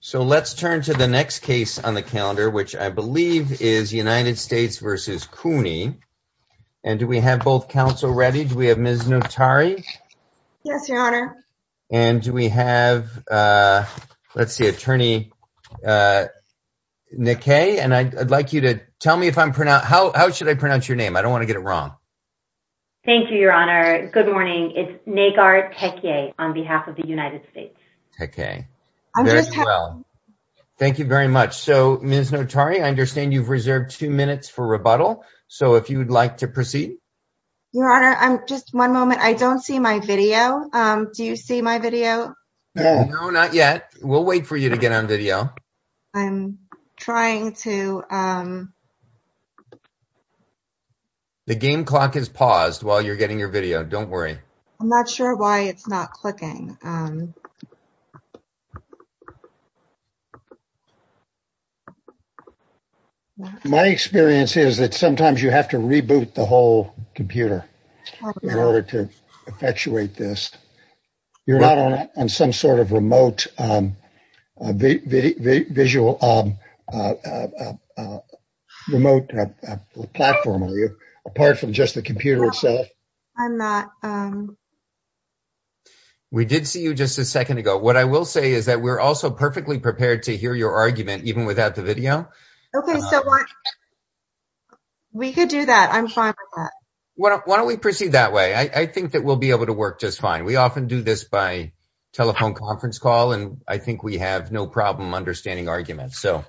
So let's turn to the next case on the calendar, which I believe is United States versus CUNY. And do we have both counsel ready? Do we have Ms. Notari? Yes, Your Honor. And do we have, let's see, Attorney Nikkei? And I'd like you to tell me if I'm pronounced, how should I pronounce your name? I don't want to get it wrong. Thank you, Your Honor. Good morning. It's Nagar Tekie on behalf of the United States. OK. Thank you very much. So, Ms. Notari, I understand you've reserved two minutes for rebuttal. So if you would like to proceed. Your Honor, just one moment. I don't see my video. Do you see my video? No, not yet. We'll wait for you to get on video. I'm trying to. The game clock is paused while you're getting your video. Don't worry. I'm not sure why it's not clicking. My experience is that sometimes you have to reboot the whole computer in order to actuate this. You're not on some sort of remote visual remote platform. Are you apart from just the computer itself? I'm not. We did see you just a second ago. What I will say is that we're also perfectly prepared to hear your argument even without the video. OK, so we could do that. I'm fine with that. Why don't we proceed that way? I think that we'll be able to work just fine. We often do this by telephone conference call. And I think we have no problem understanding arguments. So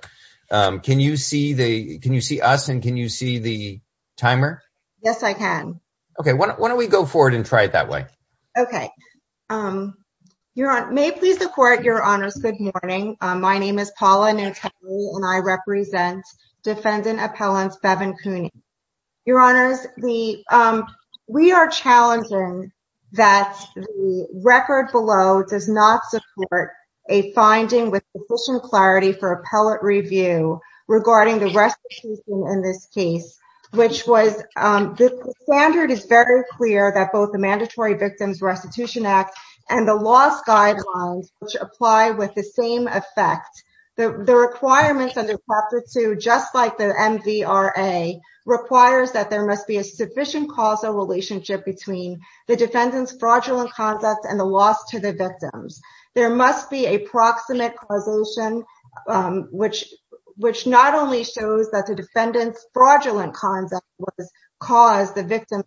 can you see the can you see us and can you see the timer? Yes, I can. OK, why don't we go forward and try it that way? OK, you may please the court. Your honor. Good morning. My name is Paula. And I represent defendant appellants Bevin Cooney. Your honors, we we are challenging that record below does not support a finding with sufficient clarity for appellate review regarding the rest in this case, which was the standard is very clear that both the Mandatory Victims Restitution Act and the loss guidelines which apply with the same effect. The requirements under Chapter two, just like the MVRA, requires that there must be a sufficient causal relationship between the defendant's fraudulent conduct and the loss to the victims. There must be a proximate causation, which which not only shows that the defendant's fraudulent concept was caused the victim.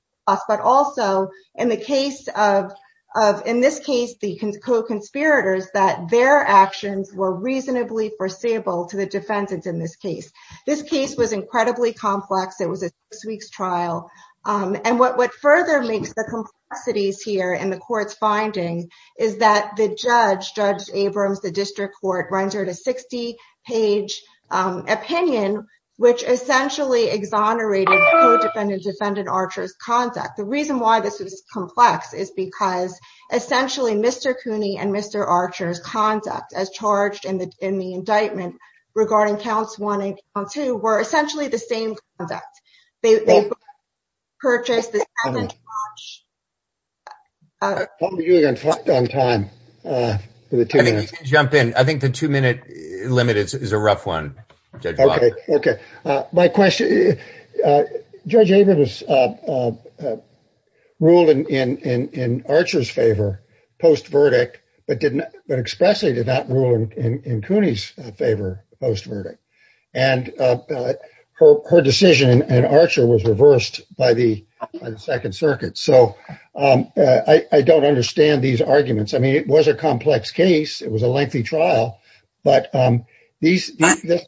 But also in the case of of in this case, the conspirators, that their actions were reasonably foreseeable to the defendants. In this case, this case was incredibly complex. It was a six weeks trial. And what what further makes the complexities here in the court's findings is that the judge, Judge Abrams, the district court rendered a 60 page opinion, which essentially exonerated the defendant. Defendant Archer's conduct. The reason why this is complex is because essentially Mr. Cooney and Mr. Archer's conduct as charged in the in the indictment regarding counts, one and two were essentially the same conduct. They purchased the. On time to jump in. I think the two minute limit is a rough one. OK, OK. My question, Judge Abrams ruled in Archer's favor post verdict, but didn't expressly did not rule in Cooney's favor post verdict. And her decision and Archer was reversed by the Second Circuit. So I don't understand these arguments. I mean, it was a complex case. It was a lengthy trial. But these but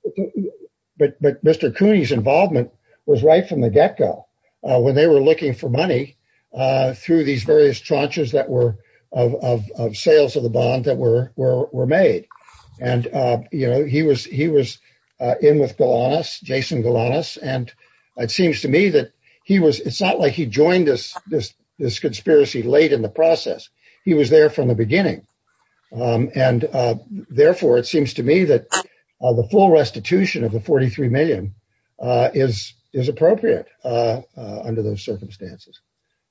Mr. Cooney's involvement was right from the get go. When they were looking for money through these various tranches that were of sales of the bond that were were made. And, you know, he was he was in with Golanus, Jason Golanus. And it seems to me that he was it's not like he joined us this this conspiracy late in the process. He was there from the beginning. And therefore, it seems to me that the full restitution of the 43 million is is appropriate under those circumstances.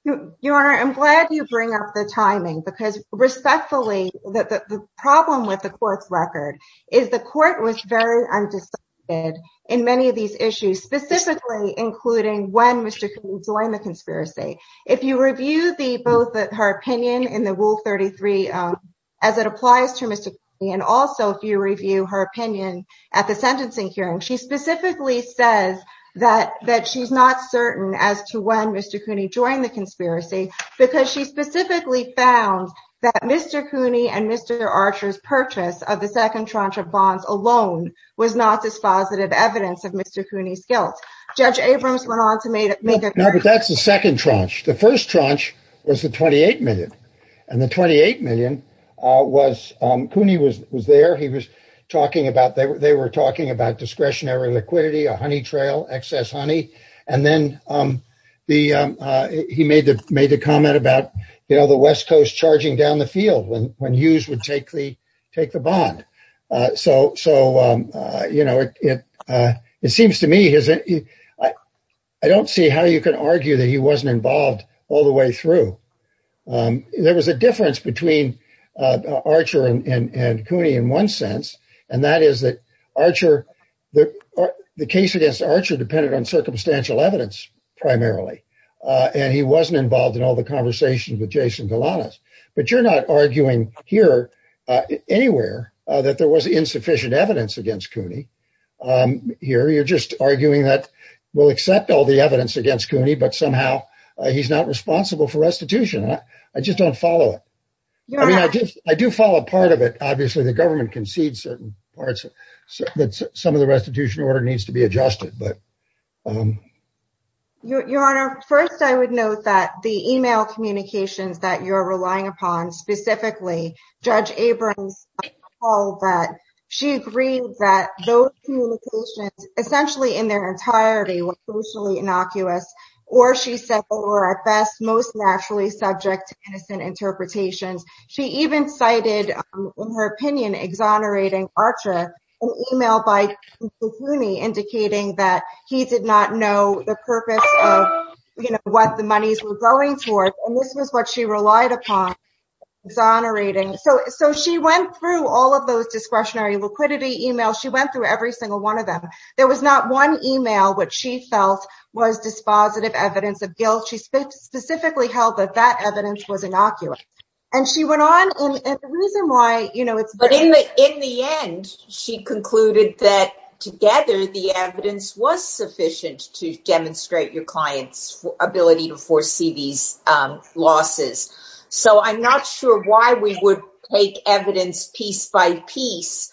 Your Honor, I'm glad you bring up the timing, because respectfully, the problem with the court's record is the court was very undecided in many of these issues, specifically including when Mr. Cooney joined the conspiracy. If you review the both her opinion in the rule 33, as it applies to Mr. And also if you review her opinion at the sentencing hearing, she specifically says that that she's not certain as to when Mr. Cooney joined the conspiracy because she specifically found that Mr. Cooney and Mr. Archer's purchase of the second tranche of bonds alone was not dispositive evidence of Mr. Cooney's guilt. Judge Abrams went on to make it. No, but that's the second tranche. The first tranche was the twenty eight million and the twenty eight million was Cooney was was there. He was talking about they were they were talking about discretionary liquidity, a honey trail, excess honey. And then the he made the made the comment about, you know, the West Coast charging down the field. When when Hughes would take the take the bond. So. So, you know, it it seems to me, isn't it? I don't see how you can argue that he wasn't involved all the way through. There was a difference between Archer and Cooney in one sense. And that is that Archer, the case against Archer depended on circumstantial evidence primarily. And he wasn't involved in all the conversations with Jason Galanis. But you're not arguing here anywhere that there was insufficient evidence against Cooney here. You're just arguing that we'll accept all the evidence against Cooney, but somehow he's not responsible for restitution. I just don't follow it. I do follow a part of it. Obviously, the government concedes certain parts that some of the restitution order needs to be adjusted. Your Honor, first, I would note that the email communications that you're relying upon specifically, Judge Abrams all that she agreed that those communications essentially in their entirety were socially innocuous. Or she said, or at best, most naturally subject to innocent interpretations. She even cited, in her opinion, exonerating Archer, an email by Cooney indicating that he did not know the purpose of what the monies were going towards. And this was what she relied upon exonerating. So so she went through all of those discretionary liquidity emails. She went through every single one of them. There was not one email which she felt was dispositive evidence of guilt. She specifically held that that evidence was innocuous. And she went on and the reason why, you know, it's. But in the end, she concluded that together, the evidence was sufficient to demonstrate your client's ability to foresee these losses. So I'm not sure why we would take evidence piece by piece.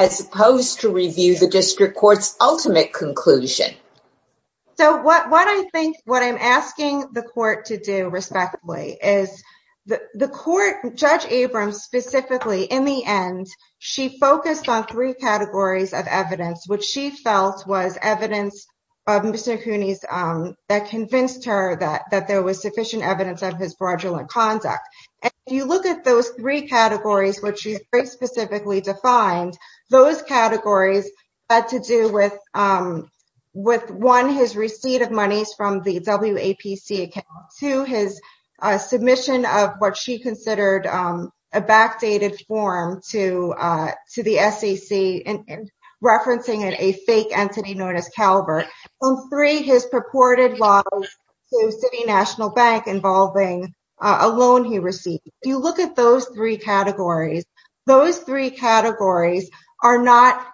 As opposed to review the district court's ultimate conclusion. So what what I think what I'm asking the court to do respectfully is the court. Judge Abrams specifically in the end, she focused on three categories of evidence, which she felt was evidence of Mr. Cooney's that convinced her that that there was sufficient evidence of his fraudulent conduct. If you look at those three categories, which is very specifically defined, those categories had to do with with one, his receipt of monies from the WPC to his submission of what she considered a backdated form to to the SEC and referencing it, Calvert on three, his purported loss to the National Bank involving a loan he received. If you look at those three categories, those three categories are not.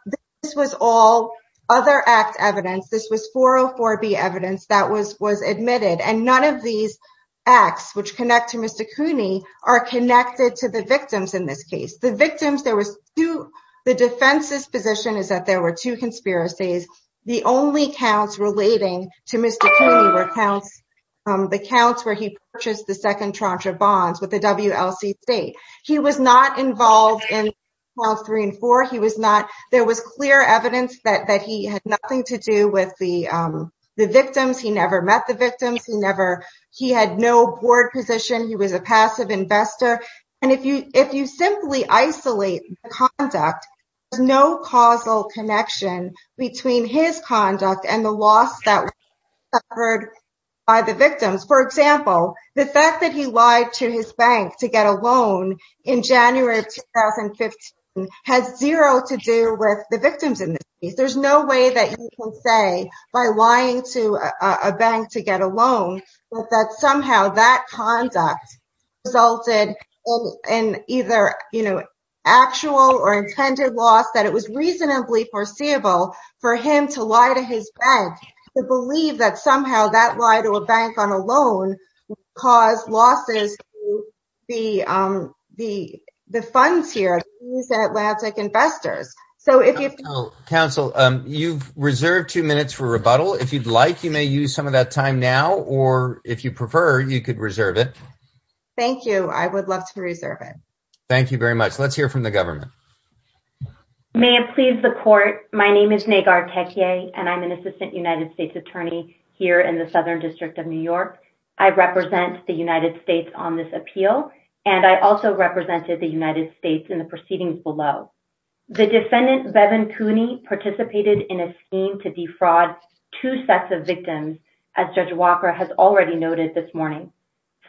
This was all other act evidence. This was for or for the evidence that was was admitted. And none of these acts which connect to Mr. Cooney are connected to the victims in this case. The victims there was to the defense's position is that there were two conspiracies. The only counts relating to Mr. Cooney were counts, the counts where he purchased the second tranche of bonds with the WLC state. He was not involved in three and four. He was not. There was clear evidence that that he had nothing to do with the victims. He never met the victims. He never he had no board position. He was a passive investor. And if you if you simply isolate conduct, there's no causal connection between his conduct and the loss suffered by the victims. For example, the fact that he lied to his bank to get a loan in January 2015 has zero to do with the victims. There's no way that you can say by lying to a bank to get a loan that somehow that conduct resulted in either actual or intended loss, that it was reasonably foreseeable for him to lie to his bank to believe that somehow that lie to a bank on a loan caused losses. The the the funds here, these Atlantic investors. So if you counsel, you've reserved two minutes for rebuttal, if you'd like, you may use some of that time now or if you prefer, you could reserve it. Thank you. I would love to reserve it. Thank you very much. Let's hear from the government. May it please the court. My name is Nagar Tekia and I'm an assistant United States attorney here in the Southern District of New York. I represent the United States on this appeal. And I also represented the United States in the proceedings below. The defendant, Bevan Cooney, participated in a scheme to defraud two sets of victims. As Judge Walker has already noted this morning.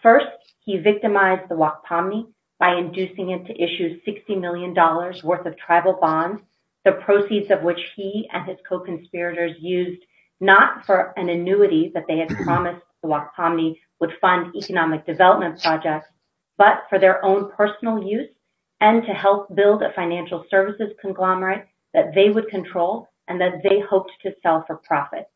First, he victimized the WAC Pomney by inducing it to issue 60 million dollars worth of tribal bonds. The proceeds of which he and his co-conspirators used not for an annuity that they had promised the WAC Pomney would fund economic development projects, but for their own personal use and to help build a financial services conglomerate that they would control and that they hoped to sell for profit.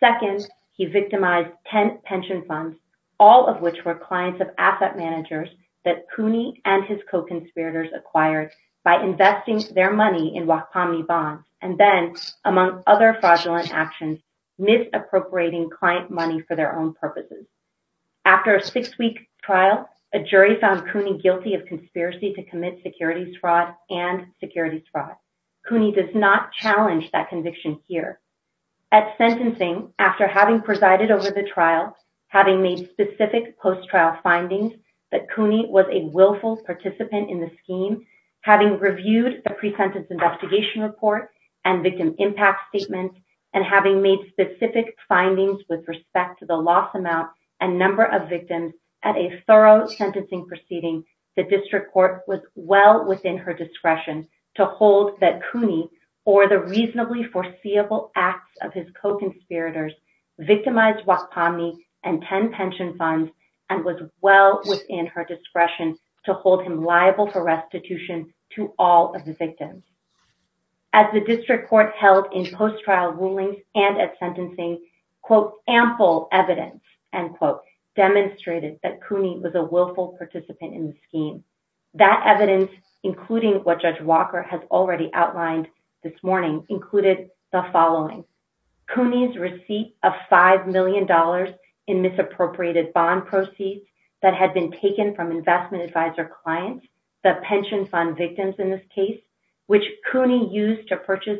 Second, he victimized 10 pension funds, all of which were clients of asset managers that Cooney and his co-conspirators acquired by investing their money in WAC Pomney bonds. And then, among other fraudulent actions, misappropriating client money for their own purposes. After a six week trial, a jury found Cooney guilty of conspiracy to commit securities fraud and securities fraud. Cooney does not challenge that conviction here. At sentencing, after having presided over the trial, having made specific post-trial findings that Cooney was a willful participant in the scheme, having reviewed the pre-sentence investigation report and victim impact statements, and having made specific findings with respect to the loss amount and number of victims at a thorough sentencing proceeding, the district court was well within her discretion to hold that Cooney, or the reasonably foreseeable acts of his co-conspirators, victimized WAC Pomney and 10 pension funds and was well within her discretion to hold him liable for restitution to all of the victims. As the district court held in post-trial rulings and at sentencing, quote, ample evidence, end quote, demonstrated that Cooney was a willful participant in the scheme. That evidence, including what Judge Walker has already outlined this morning, included the following. Cooney's receipt of $5 million in misappropriated bond proceeds that had been taken from investment advisor clients, the pension fund victims in this case, which Cooney used to purchase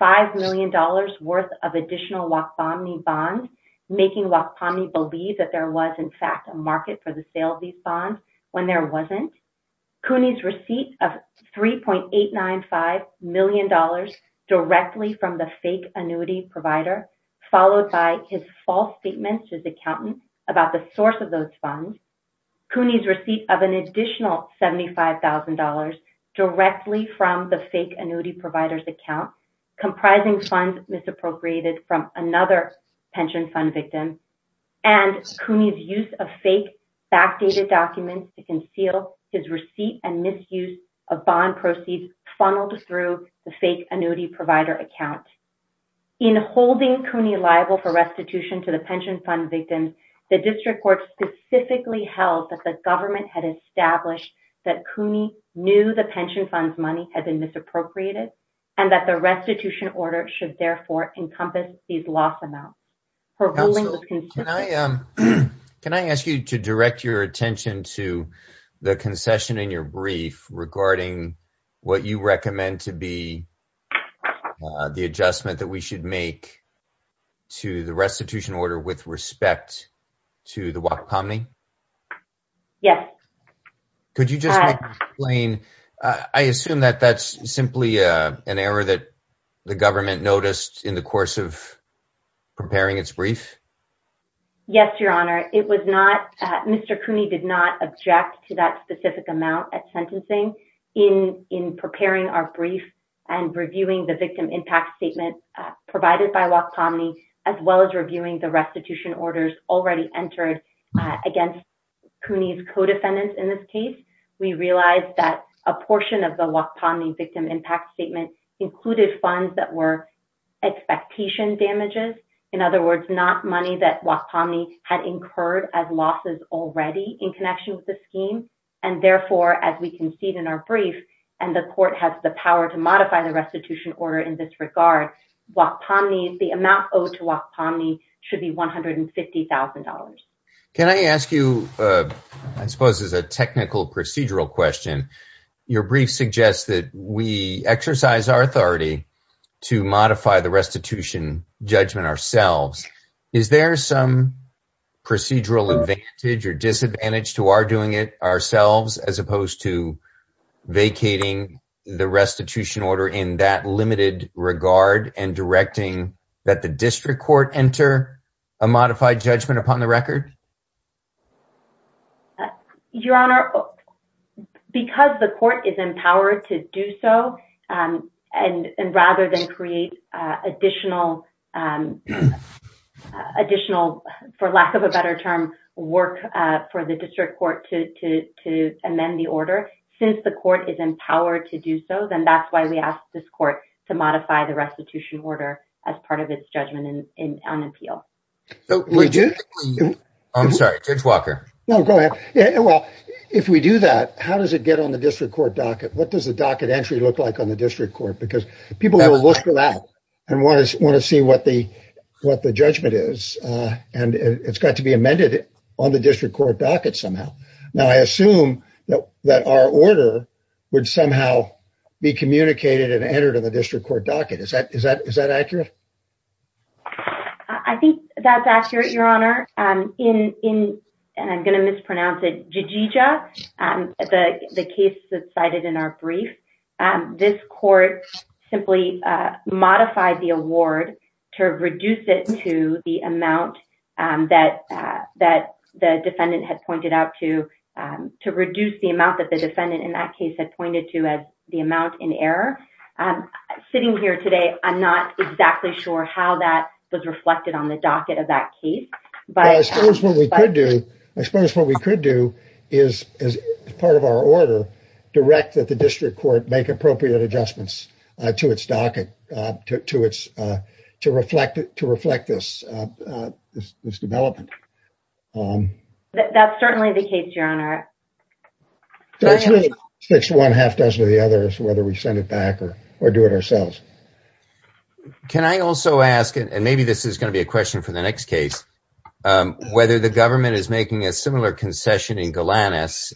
$5 million worth of additional WAC Pomney bonds, making WAC Pomney believe that there was, in fact, a market for the sale of these bonds when there wasn't. Cooney's receipt of $3.895 million directly from the fake annuity provider, followed by his false statements to his accountant about the source of those funds. Cooney's receipt of an additional $75,000 directly from the fake annuity provider's account, comprising funds misappropriated from another pension fund victim, and Cooney's use of fake backdated documents to conceal his receipt and misuse of bond proceeds funneled through the fake annuity provider account. In holding Cooney liable for restitution to the pension fund victims, the district court specifically held that the government had established that Cooney knew the pension fund's money had been misappropriated and that the restitution order should therefore encompass these loss amounts. Counsel, can I ask you to direct your attention to the concession in your brief regarding what you recommend to be the adjustment that we should make to the restitution order with respect to the WAC Pomney? Yes. Could you just explain, I assume that that's simply an error that the government noticed in the course of preparing its brief? Yes, Your Honor. It was not, Mr. Cooney did not object to that specific amount at sentencing. In preparing our brief and reviewing the victim impact statement provided by WAC Pomney, as well as reviewing the restitution orders already entered against Cooney's co-defendants in this case, we realized that a portion of the WAC Pomney victim impact statement included funds that were expectation damages. In other words, not money that WAC Pomney had incurred as losses already in connection with the scheme. And therefore, as we concede in our brief, and the court has the power to modify the restitution order in this regard, the amount owed to WAC Pomney should be $150,000. Can I ask you, I suppose as a technical procedural question, your brief suggests that we exercise our authority to modify the restitution judgment ourselves. Is there some procedural advantage or disadvantage to our doing it ourselves as opposed to vacating the restitution order in that limited regard and directing that the district court enter a modified judgment upon the record? Your Honor, because the court is empowered to do so, and rather than create additional, for lack of a better term, work for the district court to amend the order, since the court is empowered to do so, then that's why we ask this court to modify the restitution order as part of its judgment on appeal. I'm sorry, Judge Walker. No, go ahead. Well, if we do that, how does it get on the district court docket? What does the docket entry look like on the district court? Because people will look for that and want to see what the judgment is. And it's got to be amended on the district court docket somehow. Now, I assume that our order would somehow be communicated and entered in the district court docket. Is that accurate? I think that's accurate, Your Honor. In, and I'm going to mispronounce it, Jijija, the case that's cited in our brief, this court simply modified the award to reduce it to the amount that the defendant had pointed out to, to reduce the amount that the defendant in that case had pointed to as the amount in error. Sitting here today, I'm not exactly sure how that was reflected on the docket of that case. Well, I suppose what we could do, I suppose what we could do is, as part of our order, direct that the district court make appropriate adjustments to its docket to reflect this development. That's certainly the case, Your Honor. It really sticks to one half dozen of the others, whether we send it back or do it ourselves. Can I also ask, and maybe this is going to be a question for the next case, whether the government is making a similar concession in Golanus,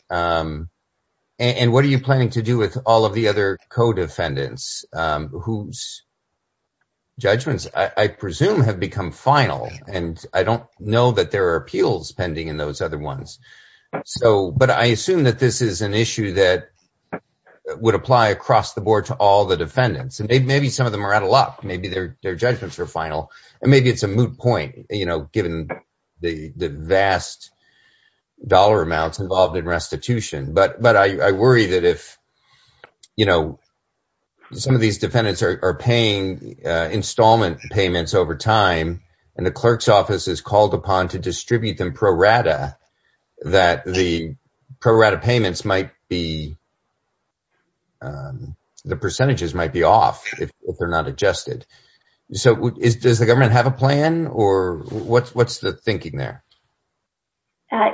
and what are you planning to do with all of the other co-defendants whose judgments, I presume, have become final? And I don't know that there are appeals pending in those other ones. But I assume that this is an issue that would apply across the board to all the defendants, and maybe some of them are out of luck, maybe their judgments are final, and maybe it's a moot point, given the vast dollar amounts involved in restitution. But I worry that if some of these defendants are paying installment payments over time, and the clerk's office is called upon to distribute them pro rata, that the pro rata payments might be, the percentages might be off if they're not adjusted. So does the government have a plan, or what's the thinking there?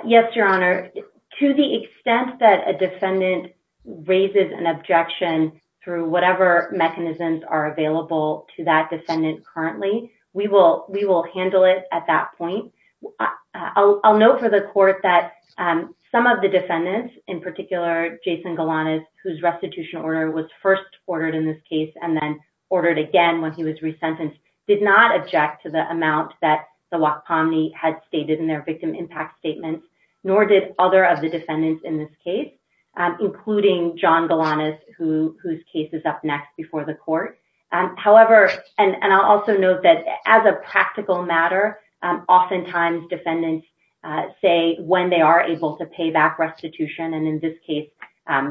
Yes, Your Honor. To the extent that a defendant raises an objection through whatever mechanisms are available to that defendant currently, we will handle it at that point. I'll note for the court that some of the defendants, in particular Jason Golanus, whose restitution order was first ordered in this case and then ordered again when he was resentenced, did not object to the amount that the WAC Committee had stated in their victim impact statement, nor did other of the defendants in this case, including John Golanus, whose case is up next before the court. However, and I'll also note that as a practical matter, oftentimes defendants say when they are able to pay back restitution, and in this case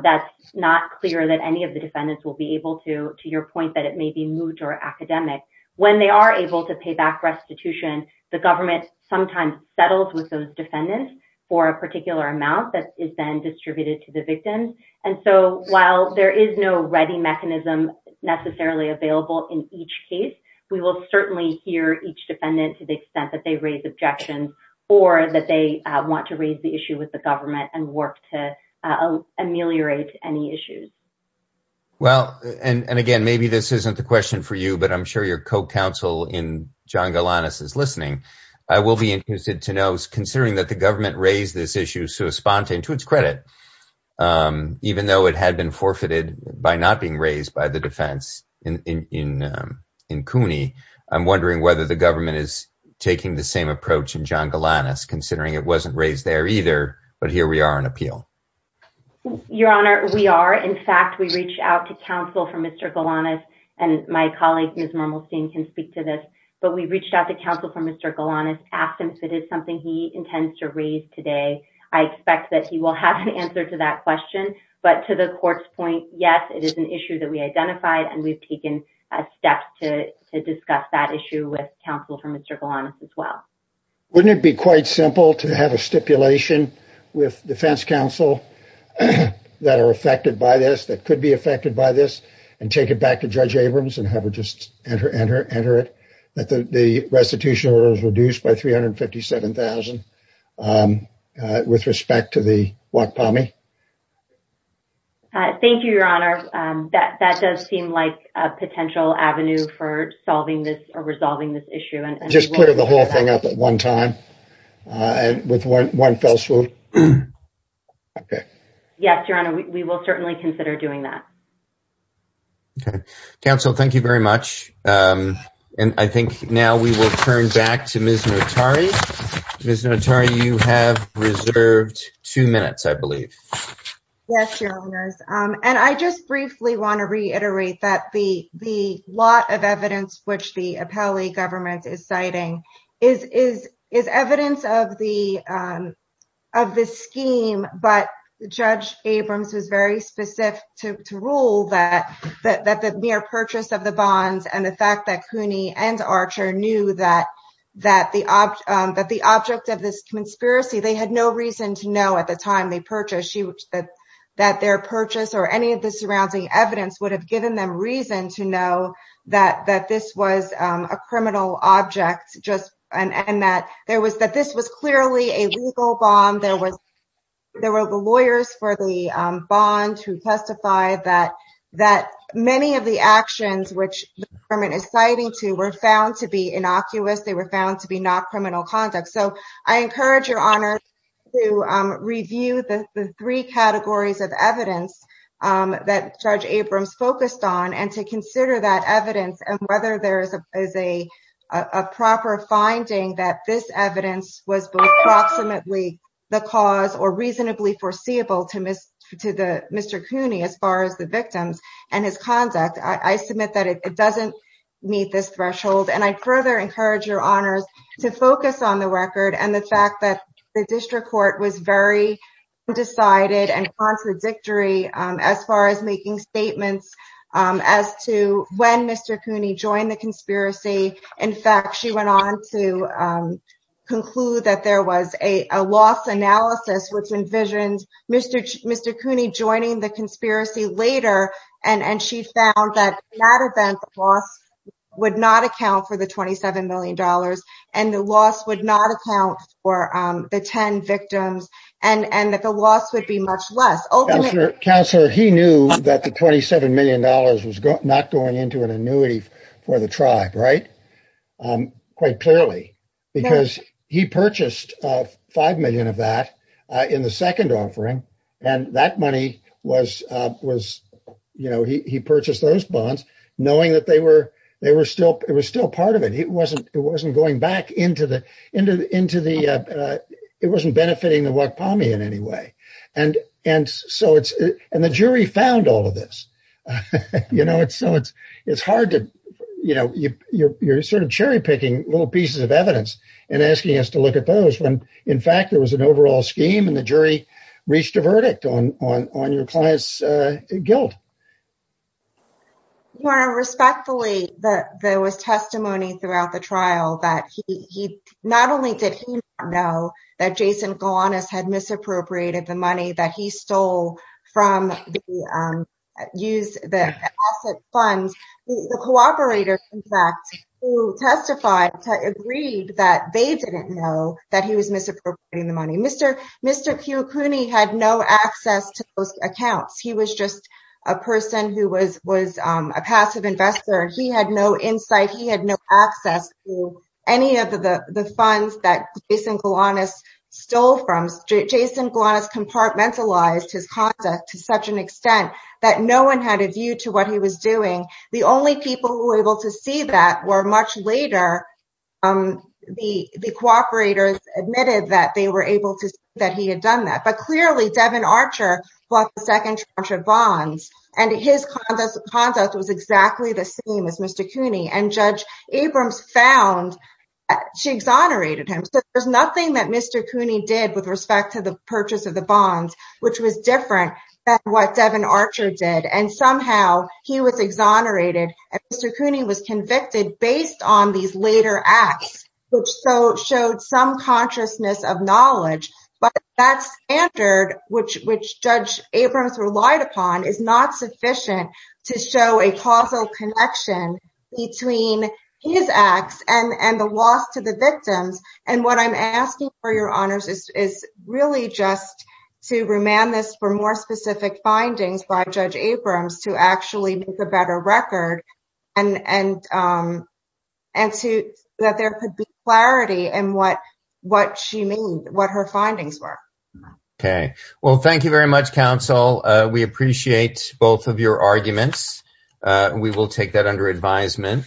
that's not clear that any of the defendants will be able to, to your point that it may be moot or academic. When they are able to pay back restitution, the government sometimes settles with those defendants for a particular amount that is then distributed to the victims. And so while there is no ready mechanism necessarily available in each case, we will certainly hear each defendant to the extent that they raise objections or that they want to raise the issue with the government and work to ameliorate any issues. Well, and again, maybe this isn't the question for you, but I'm sure your co-counsel in John Golanus is listening. I will be interested to know, considering that the government raised this issue, so a spontane to its credit, even though it had been forfeited by not being raised by the defense in CUNY, I'm wondering whether the government is taking the same approach in John Golanus, considering it wasn't raised there either. But here we are on appeal. Your Honor, we are. In fact, we reached out to counsel from Mr. Golanus and my colleague, Ms. Mermelstein, can speak to this. But we reached out to counsel from Mr. Golanus, asked him if it is something he intends to raise today. I expect that he will have an answer to that question. But to the court's point, yes, it is an issue that we identified. And we've taken steps to discuss that issue with counsel from Mr. Golanus as well. Wouldn't it be quite simple to have a stipulation with defense counsel that are affected by this, that could be affected by this, and take it back to Judge Abrams and have her just enter it, that the restitution order is reduced by $357,000 with respect to the WACPOMI? Thank you, Your Honor. That does seem like a potential avenue for solving this or resolving this issue. Just put the whole thing up at one time with one fell swoop. Yes, Your Honor, we will certainly consider doing that. Okay. Counsel, thank you very much. And I think now we will turn back to Ms. Notari. Ms. Notari, you have reserved two minutes, I believe. Yes, Your Honors. And I just briefly want to reiterate that the lot of evidence which the Apelli government is citing is evidence of the scheme, but Judge Abrams was very specific to rule that the mere purchase of the bonds and the fact that Cooney and Archer knew that the object of this conspiracy, they had no reason to know at the time they purchased that their purchase or any of the surrounding evidence would have given them reason to know that this was a criminal object, and that this was clearly a legal bond. There were the lawyers for the bond who testified that many of the actions which the government is citing to were found to be innocuous. They were found to be not criminal conduct. So I encourage Your Honors to review the three categories of evidence that Judge Abrams focused on and to consider that evidence and whether there is a proper finding that this evidence was approximately the cause or reasonably foreseeable to Mr. Cooney as far as the victims and his conduct. I submit that it doesn't meet this threshold. And I further encourage Your Honors to focus on the record and the fact that the district court was very undecided and contradictory as far as making statements as to when Mr. Cooney joined the conspiracy. In fact, she went on to conclude that there was a loss analysis which envisions Mr. Cooney joining the conspiracy later, and she found that in that event, the loss would not account for the $27 million, and the loss would not account for the 10 victims, and that the loss would be much less. Counselor, he knew that the $27 million was not going into an annuity for the tribe, right, quite clearly, because he purchased $5 million of that in the second offering, and that money was, you know, he purchased those bonds knowing that they were still part of it. It wasn't going back into the – it wasn't benefiting the Wakpami in any way. And so it's – and the jury found all of this. You know, it's so – it's hard to – you know, you're sort of cherry-picking little pieces of evidence and asking us to look at those when, in fact, there was an overall scheme, and the jury reached a verdict on your client's guilt. Your Honor, respectfully, there was testimony throughout the trial that he – the cooperator, in fact, who testified agreed that they didn't know that he was misappropriating the money. Mr. Kiyokuni had no access to those accounts. He was just a person who was a passive investor. He had no insight. He had no access to any of the funds that Jason Galanis stole from. Jason Galanis compartmentalized his conduct to such an extent that no one had a view to what he was doing. The only people who were able to see that were much later. The cooperators admitted that they were able to see that he had done that. But clearly, Devin Archer was the second charge of bonds, and his conduct was exactly the same as Mr. Kiyokuni. And Judge Abrams found – she exonerated him. So there's nothing that Mr. Kiyokuni did with respect to the purchase of the bonds, which was different than what Devin Archer did. And somehow, he was exonerated, and Mr. Kiyokuni was convicted based on these later acts, which showed some consciousness of knowledge. But that standard, which Judge Abrams relied upon, is not sufficient to show a causal connection between his acts and the loss to the victims. And what I'm asking for your honors is really just to remand this for more specific findings by Judge Abrams to actually make a better record, and that there could be clarity in what she meant, what her findings were. Okay. Well, thank you very much, counsel. We appreciate both of your arguments. We will take that under advisement.